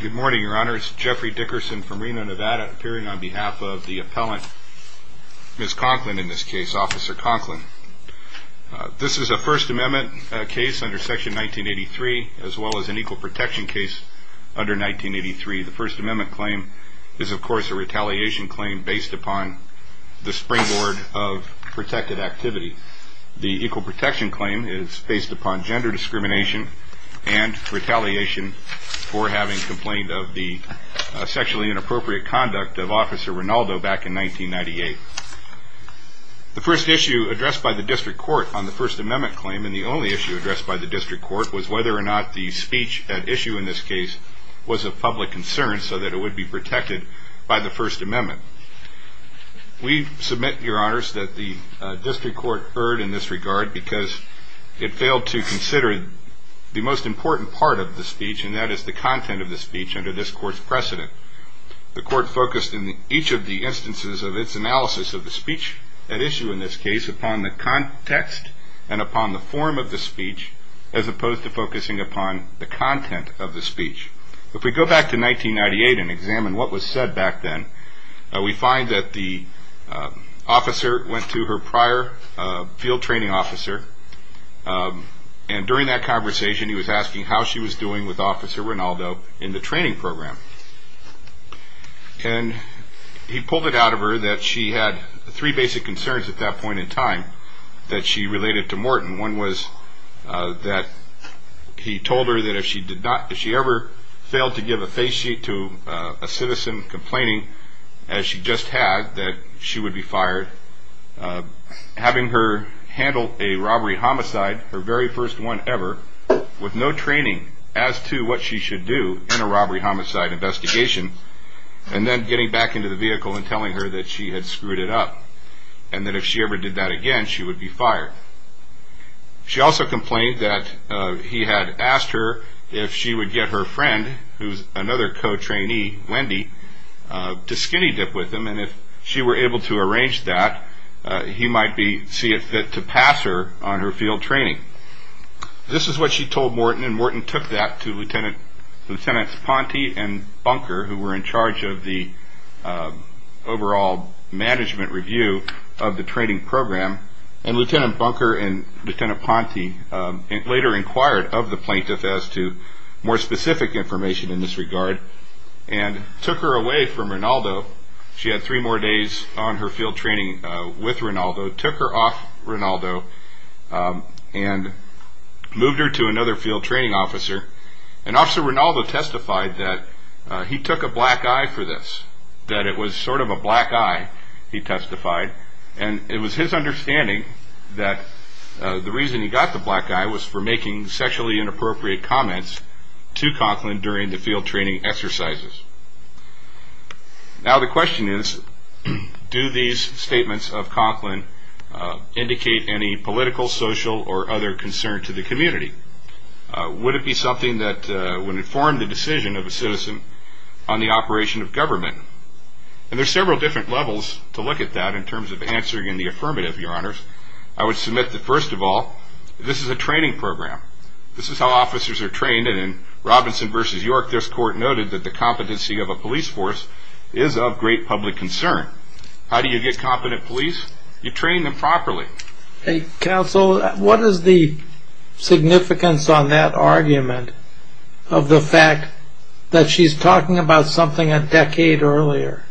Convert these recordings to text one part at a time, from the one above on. Good morning, your honor. It's Jeffrey Dickerson from Reno, Nevada, appearing on behalf of the appellant, Ms. Conklin, in this case, Officer Conklin. This is a First Amendment case under Section 1983, as well as an Equal Protection case under 1983. The First Amendment claim is, of course, a retaliation claim based upon the springboard of protected activity. The Equal Protection complaint of the sexually inappropriate conduct of Officer Rinaldo back in 1998. The first issue addressed by the District Court on the First Amendment claim, and the only issue addressed by the District Court, was whether or not the speech at issue in this case was of public concern so that it would be protected by the First Amendment. We submit, your honors, that the District Court erred in this regard because it failed to consider the most important part of the under this Court's precedent. The Court focused in each of the instances of its analysis of the speech at issue in this case upon the context and upon the form of the speech, as opposed to focusing upon the content of the speech. If we go back to 1998 and examine what was said back then, we find that the officer went to her prior field training officer, and during that conversation, he was asking how she was doing with Officer Rinaldo in the training program. And he pulled it out of her that she had three basic concerns at that point in time that she related to Morton. One was that he told her that if she did not, if she ever failed to give a face sheet to a citizen complaining, as she just had, that she would be with no training as to what she should do in a robbery homicide investigation, and then getting back into the vehicle and telling her that she had screwed it up, and that if she ever did that again, she would be fired. She also complained that he had asked her if she would get her friend, who's another co-trainee, Wendy, to skinny-dip with him, and if she were able to arrange that, he might see it fit to pass her on her field training. This is what she told Morton, and Morton took that to Lieutenants Ponte and Bunker, who were in charge of the overall management review of the training program, and Lieutenant Bunker and Lieutenant Ponte later inquired of the plaintiff as to more specific information in this regard, and took her away from Rinaldo. She had three more days on her field training with Rinaldo, took her off Rinaldo, and moved her to another field training officer, and Officer Rinaldo testified that he took a black eye for this, that it was sort of a black eye, he testified, and it was his understanding that the reason he got the black eye was for making sexually inappropriate comments to Conklin during the field training exercises. Now the question is, do these statements of Conklin indicate any political, social, or other concern to the community? Would it be something that would inform the decision of a citizen on the operation of government? And there's several different levels to look at that in terms of answering in the affirmative, your honors. I would submit that first of all, this is a training program. This is how officers are trained, and in Robinson v. York, this court noted that the competency of a police force is of great public concern. How do you get competent police? You train them properly. Counsel, what is the significance on that argument of the fact that she's talking about something a decade earlier?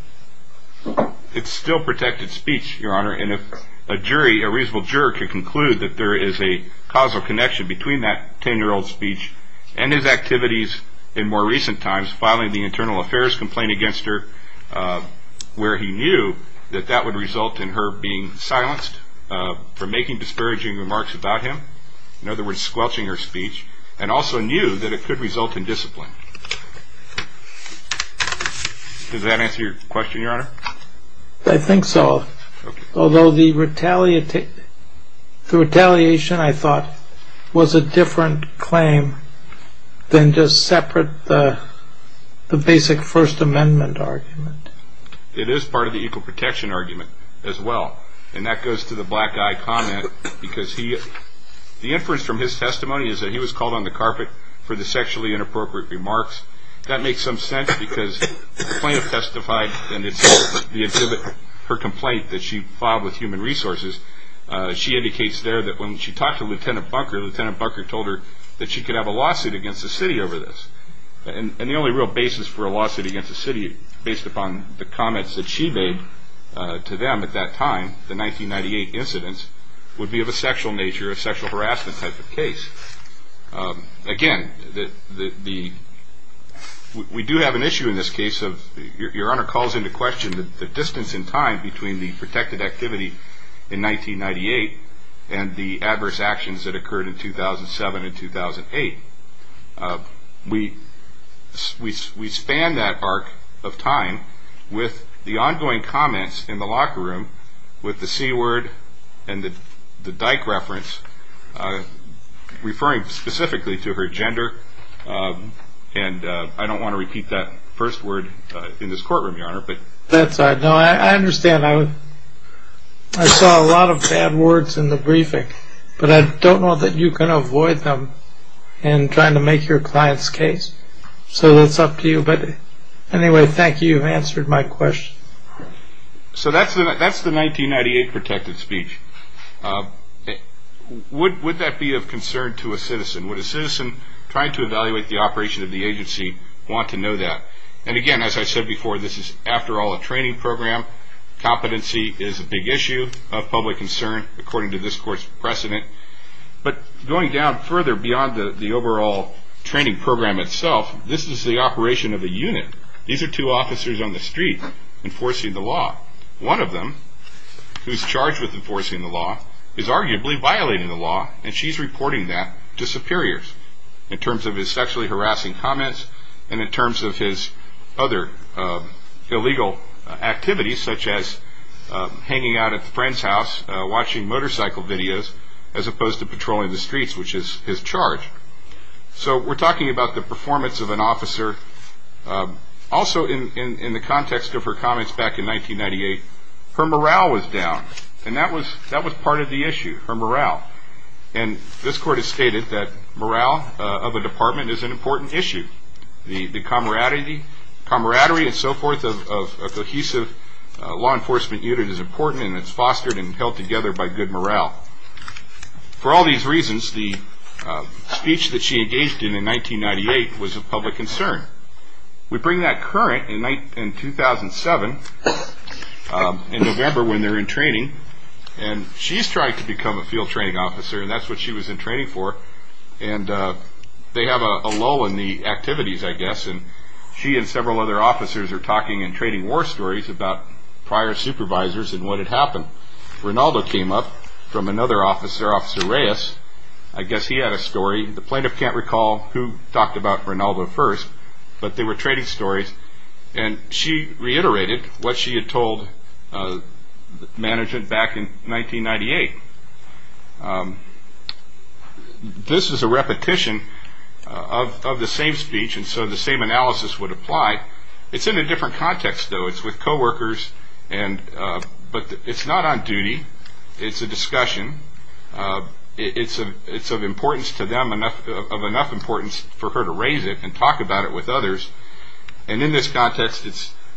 It's still protected speech, your honor, and if a jury, a reasonable juror, could conclude that there is a causal connection between that 10-year-old's speech and his activities in more recent times, filing the internal affairs complaint against her, where he knew that that would result in her being silenced for making disparaging remarks about him, in other words, squelching her speech, and also knew that it could result in discipline. Does that answer your question, your honor? I think so, although the retaliation, I thought, was a different claim than just separate the basic First Amendment argument. It is part of the equal protection argument as well, and that goes to the black guy comment, because the inference from his testimony is that he was called on the carpet for the sexually inappropriate remarks. That makes some sense, because the plaintiff testified, and it's her complaint that she filed with Human Resources. She indicates there that when she talked to Lieutenant Bunker, Lieutenant Bunker told her that she could have a lawsuit against the city over this, and the only real basis for a lawsuit against the city, based upon the comments that she made to them at that time, the 1998 incidents, would be of a sexual nature, a sexual harassment type of case. Again, we do have an issue in this case of, your honor calls into question, the distance in time between the protected activity in 1998 and the adverse actions that occurred in 2007 and 2008. We span that arc of time with the ongoing comments in the locker room, with the C word and the Dyke reference, referring specifically to her gender, and I don't want to repeat that first word in this courtroom, your honor. That's all right. I understand. I saw a lot of bad words in the briefing, but I don't know that you can avoid them in trying to make your client's case, so that's up to you. Anyway, thank you. You've answered my question. So that's the 1998 protected speech. Would that be of concern to a citizen? Would a citizen trying to evaluate the operation of the agency want to know that? Again, as I said before, this is, after all, a training program. Competency is a big issue of public concern, according to this court's precedent, but going down further beyond the overall training program itself, this is the operation of a unit. These are two officers on the street enforcing the law. One of them, who's charged with enforcing the law, is arguably violating the law, and she's reporting that to superiors, in terms of his sexually harassing comments, and in terms of his other illegal activities, such as hanging out at a friend's house, watching motorcycle videos, as opposed to patrolling the streets, which is his charge. So we're talking about the performance of an officer. Also, in the context of her comments back in 1998, her morale was down, and that was part of the issue, her morale, and this court has stated that morale of a department is an important issue. The camaraderie and so forth of a cohesive law enforcement unit is important, and it's fostered and held together by good morale. For all these reasons, the speech that she engaged in in 1998 was of public concern. We bring that current in 2007, in November, when they're in training, and she's trying to become a field training officer, and that's what she was in training for, and they have a lull in the activities, I guess, and she and several other officers are talking in training war stories about prior supervisors and what had happened. Rinaldo came up from another officer, Officer Reyes. I guess he had a story. The plaintiff can't recall who talked about Rinaldo first, but they were training stories, and she reiterated what she had told management back in 1998. This is a repetition of the same speech, and so the same analysis would apply. It's in a different context, though. It's with coworkers, but it's not on duty. It's a discussion. It's of enough importance to them for her to raise it and talk about it with others, and in this context,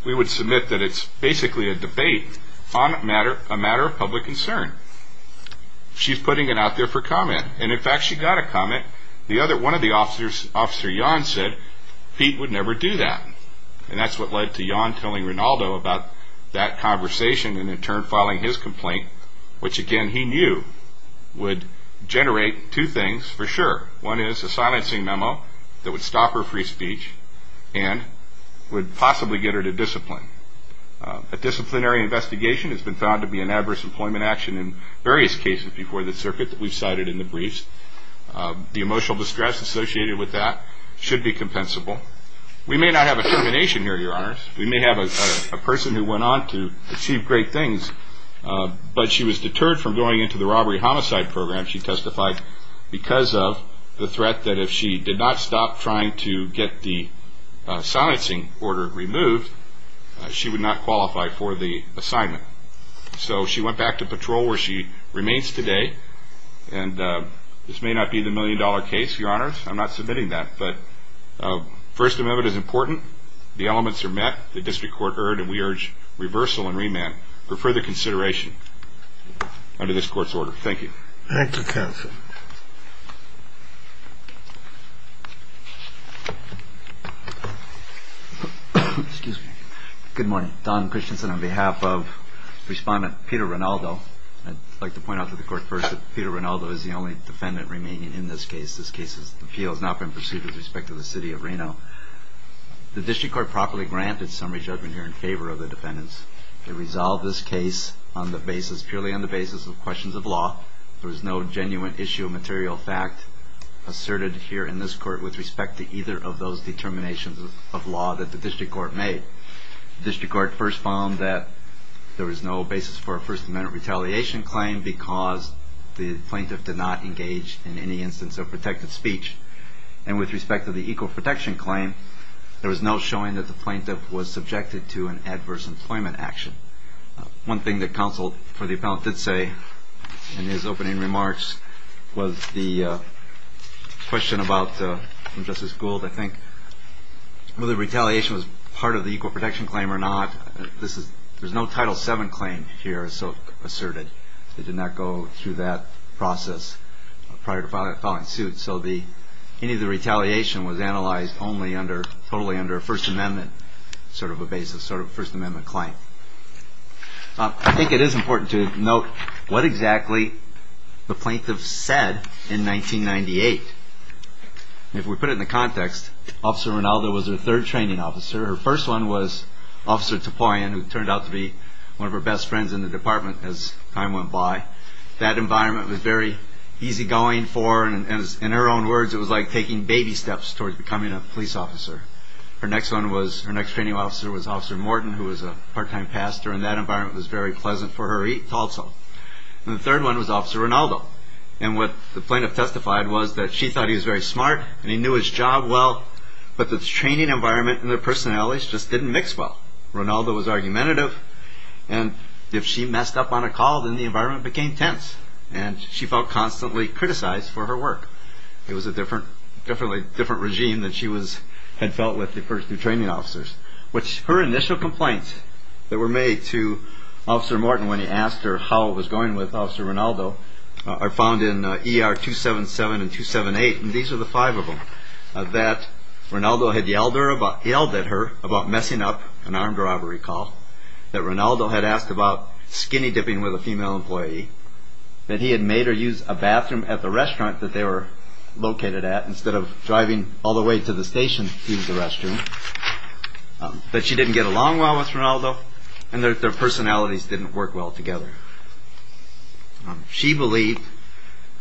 we would submit that it's basically a debate on a matter of public concern. She's putting it out there for comment, and in fact, she got a comment. One of the officers, Officer Yon, said Pete would never do that, and that's what led to Yon telling Rinaldo about that conversation and in turn filing his complaint, which again he knew would generate two things for sure. One is a silencing memo that would stop her free speech and would possibly get her to discipline. A disciplinary investigation has been found to be an adverse employment action in various cases before the circuit that we've cited in the briefs. The emotional distress associated with that should be compensable. We may not have a termination here, Your Honors. We may have a person who went on to achieve great things, but she was deterred from going into the robbery homicide program, she testified, because of the threat that if she did not stop trying to get the silencing order removed, she would not qualify for the assignment. So she went back to patrol where she remains today, and this may not be the million-dollar case, Your Honors. I'm not submitting that, but First Amendment is important, the elements are met, the district court heard, and we urge reversal and remand for further consideration under this court's order. Thank you. Thank you, counsel. Excuse me. Good morning. Don Christensen on behalf of Respondent Peter Rinaldo. I'd like to point out to the court first that Peter Rinaldo is the only defendant remaining in this case. This case's appeal has not been pursued with respect to the city of Reno. The district court properly granted summary judgment here in favor of the defendants. They resolved this case on the basis, purely on the basis of questions of law. There was no genuine issue of material fact asserted here in this court with respect to either of those determinations of law that the district court made. The district court first found that there was no basis for a First Amendment retaliation claim because the plaintiff did not engage in any instance of protected speech. And with respect to the equal protection claim, there was no showing that the plaintiff was subjected to an adverse employment action. One thing that counsel for the appellant did say in his opening remarks was the question about Justice Gould, I think, whether retaliation was part of the equal protection claim or not. There's no Title VII claim here asserted. It did not go through that process prior to filing a suit. So any of the retaliation was analyzed only under, totally under a First Amendment claim. I think it is important to note what exactly the plaintiff said in 1998. If we put it in the context, Officer Rinaldo was her third training officer. Her first one was Officer Tipoian, who turned out to be one of her best friends in the department as time went by. That environment was very easygoing for her. In her own words, it was like taking baby steps towards becoming a police officer. Her next one was, her next training officer was Officer Morton, who was a part-time pastor, and that environment was very pleasant for her also. And the third one was Officer Rinaldo. And what the plaintiff testified was that she thought he was very smart and he knew his job well, but the training environment and the personalities just didn't mix well. Rinaldo was argumentative. And if she messed up on a call, then the environment became tense. And she felt constantly criticized for her work. It was a different regime that she had felt with the first two training officers. Her initial complaints that were made to Officer Morton when he asked her how it was going with Officer Rinaldo are found in ER 277 and 278, and these are the five of them, that Rinaldo had yelled at her about messing up an armed robbery call, that Rinaldo had asked about skinny dipping with a female employee, that he had made her use a bathroom at the restaurant that they were located at instead of driving all the way to the station to use the restroom, that she didn't get along well with Rinaldo, and that their personalities didn't work well together. She believed,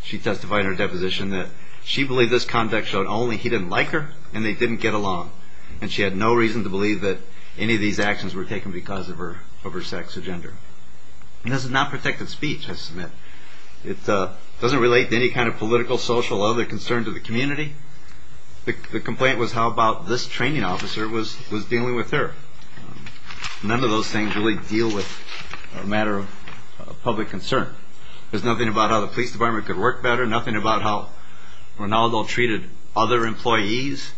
she testified in her deposition that she believed this conduct showed only he didn't like her and they didn't get along. And she had no reason to believe that any of these actions were taken because of her sex or gender. This is not protected speech, I submit. It doesn't relate to any kind of political, social, other concern to the community. The complaint was how about this training officer was dealing with her. None of those things really deal with a matter of public concern. There's nothing about how the police department could work better, nothing about how Rinaldo treated other employees.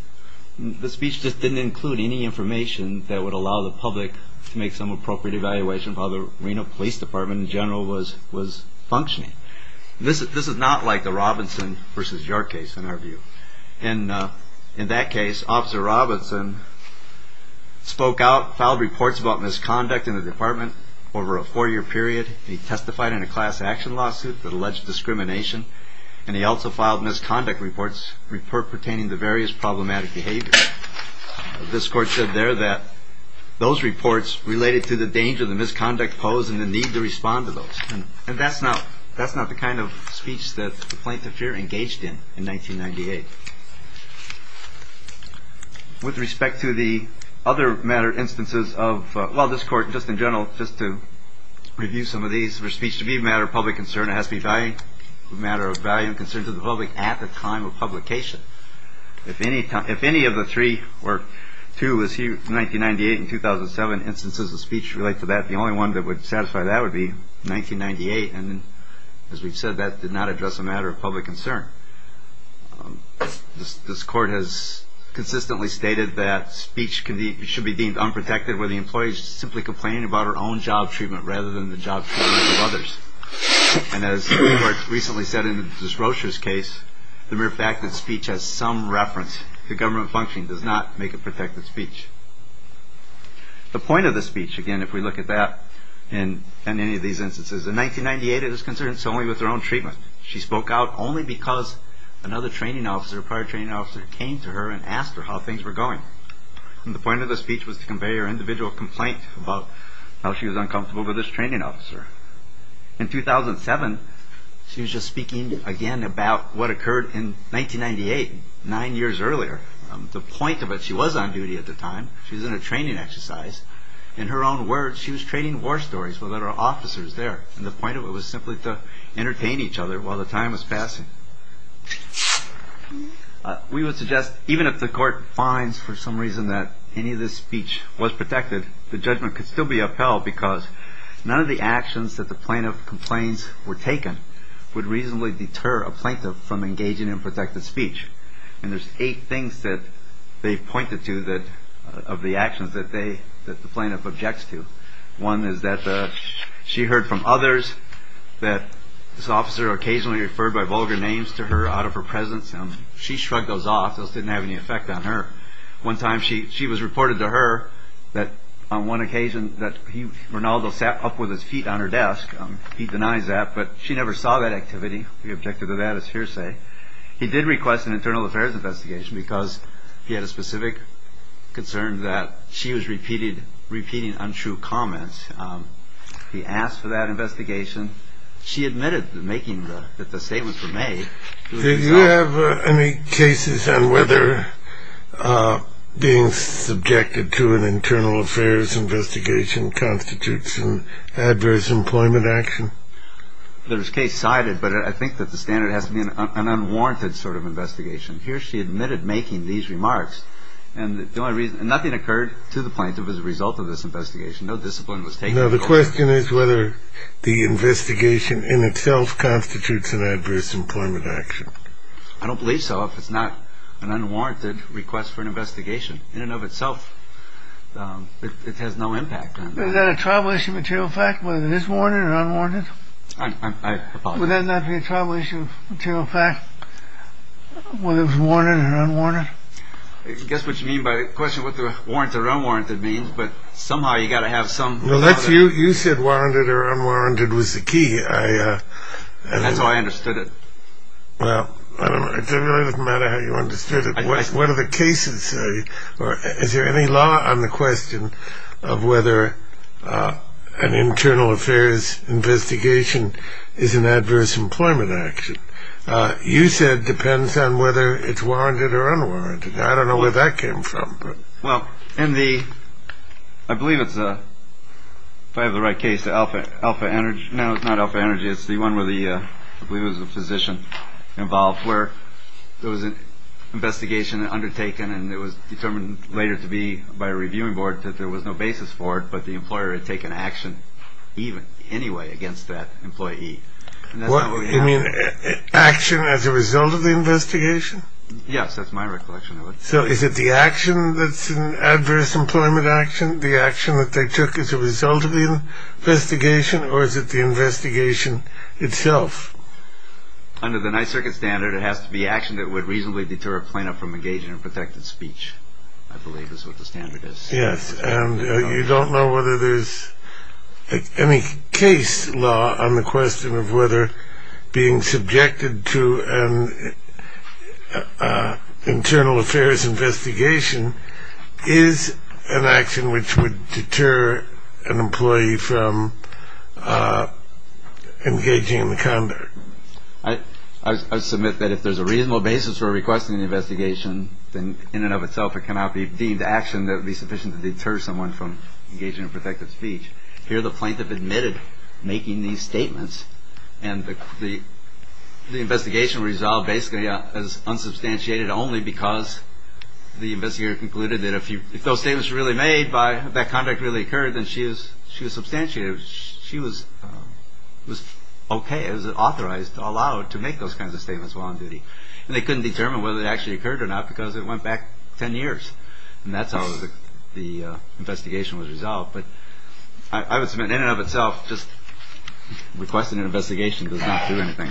The speech just didn't include any information that would allow the public to make some evaluation of how the Reno Police Department in general was functioning. This is not like the Robinson v. York case in our view. In that case, Officer Robinson spoke out, filed reports about misconduct in the department over a four-year period. He testified in a class action lawsuit that alleged discrimination, and he also filed misconduct reports pertaining to various the misconduct posed and the need to respond to those. And that's not the kind of speech that the plaintiff here engaged in in 1998. With respect to the other matter instances of, well, this court just in general, just to review some of these, for speech to be a matter of public concern, it has to be a matter of value and concern to the public at the time of publication. If any of the three, or two of the 1998 and 2007 instances of speech relate to that, the only one that would satisfy that would be 1998. And as we've said, that did not address a matter of public concern. This court has consistently stated that speech should be deemed unprotected where the employee is simply complaining about her own job treatment rather than the job treatment of others. And as the court recently said in this Rocher's case, the mere fact that speech has some reference to government functioning does not make it protected speech. The point of the speech, again, if we look at that in any of these instances, in 1998 it was concerned solely with her own treatment. She spoke out only because another training officer, a prior training officer came to her and asked her how things were going. And the point of the speech was to convey her individual complaint about how she was 1998, nine years earlier. The point of it, she was on duty at the time. She was in a training exercise. In her own words, she was training war stories with other officers there. And the point of it was simply to entertain each other while the time was passing. We would suggest even if the court finds for some reason that any of this speech was protected, the judgment could still be upheld because none of the actions that the plaintiff complains were taken would reasonably deter a plaintiff from engaging in protected speech. And there's eight things that they've pointed to of the actions that the plaintiff objects to. One is that she heard from others that this officer occasionally referred by vulgar names to her out of her presence. She shrugged those off. Those didn't have any effect on her. One time she was reported to her that on one occasion that Ronaldo sat up with his feet on her desk. He denies that, but she never saw that activity. He objected to that as hearsay. He did request an internal affairs investigation because he had a specific concern that she was repeated, repeating untrue comments. He asked for that investigation. She admitted making that the statements were made. Did you have any cases on whether being subjected to an internal affairs investigation constitutes an adverse employment action? There's case cited, but I think that the standard has to be an unwarranted sort of investigation. Here she admitted making these remarks, and the only reason nothing occurred to the plaintiff as a result of this investigation. No discipline was taken. The question is whether the investigation in itself constitutes an adverse employment action. I don't believe so. If it's not an unwarranted request for an investigation in and of itself, it has no impact. Is that a tribal issue material fact whether it is warranted or unwarranted? Would that not be a tribal issue material fact whether it was warranted or unwarranted? Guess what you mean by the question what the warrant or unwarranted means, but somehow you got to have some. Well, you said warranted or unwarranted was the key. That's how I understood it. Well, it really doesn't matter how you understood it. What are the cases? Is there any law on the question of whether an internal affairs investigation is an adverse employment action? You said depends on whether it's warranted or unwarranted. I don't know where that came from. Well, in the, I believe it's a, if I have the right case, the Alpha Energy. No, it's not Alpha Energy. It's the one where the, I believe it was a physician involved, where there was an later to be by a reviewing board that there was no basis for it, but the employer had taken action even anyway against that employee. You mean action as a result of the investigation? Yes, that's my recollection of it. So is it the action that's an adverse employment action, the action that they took as a result of the investigation, or is it the investigation itself? Under the Ninth Circuit standard, it has to be action that would reasonably deter a plaintiff from engaging in protected speech. I believe that's what the standard is. Yes. And you don't know whether there's any case law on the question of whether being subjected to an internal affairs investigation is an action which would deter an employee from engaging in the conduct. I submit that if there's a reasonable basis for requesting an investigation, then in and of itself, it cannot be deemed action that would be sufficient to deter someone from engaging in protective speech. Here, the plaintiff admitted making these statements, and the investigation resolved basically as unsubstantiated only because the investigator concluded that if those statements were really made, that conduct really occurred, then she was substantiated. She was okay, authorized, allowed to make those kinds of statements while on duty. And they couldn't determine whether it actually occurred or not because it went back 10 years. And that's how the investigation was resolved. But I would submit in and of itself, just requesting an investigation does not do anything.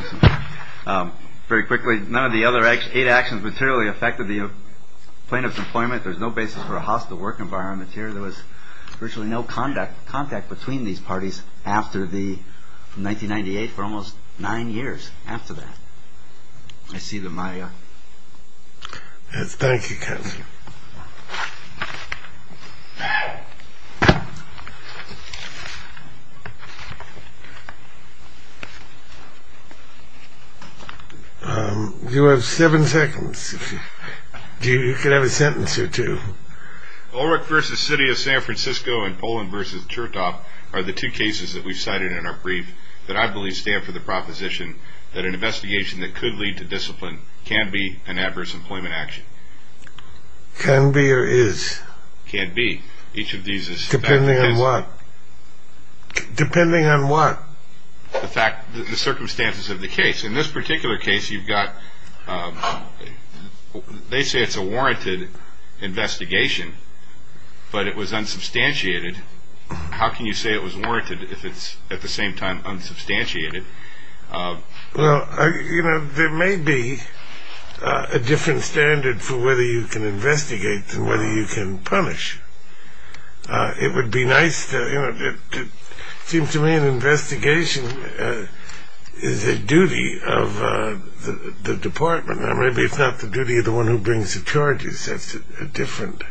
Very quickly, none of the other eight actions materially affected the plaintiff's employment. There's no basis for a hostile work environment here. There was virtually no contact between these parties after the 1998 for almost nine years. After that, I see that my. Yes. Thank you. You have seven seconds. You can have a sentence or two. Ulrich versus City of San Francisco and Poland versus Chertoff are the two cases that we've cited in our brief that I believe stand for the proposition that an investigation that could lead to discipline can be an adverse employment action. Can be or is. Can be. Each of these is. Depending on what? Depending on what? The circumstances of the case. In this but it was unsubstantiated. How can you say it was warranted if it's at the same time unsubstantiated? Well, you know, there may be a different standard for whether you can investigate than whether you can punish. It would be nice to seem to me an investigation is a duty of the department. Maybe it's not the duty of the one who brings the charges. That's a different.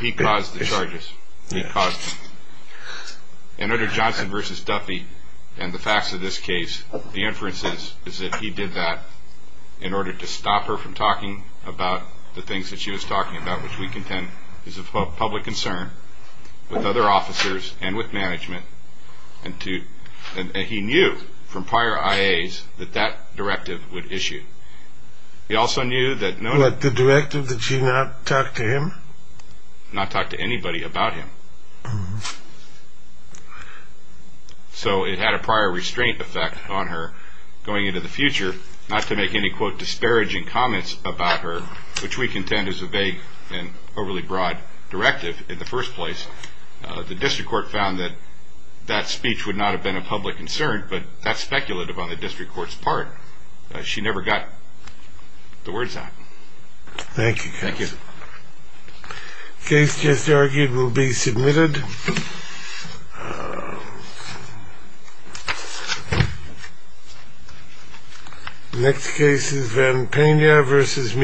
He caused the charges. He caused. And under Johnson versus Duffy and the facts of this case, the inferences is that he did that in order to stop her from talking about the things that she was talking about, which we contend is a public concern with other officers and with management. And he knew from prior IA's that that directive would issue. He also knew that the directive that she not talk to him, not talk to anybody about him. So it had a prior restraint effect on her going into the future, not to make any, quote, disparaging comments about her, which we contend is a vague and overly broad directive. In the first place, the district court found that that speech would not have been a public concern, but that's speculative on the district court's part. She never got the words out. Thank you. Thank you. Case just argued will be submitted. Next case is Van Pena versus Meeker.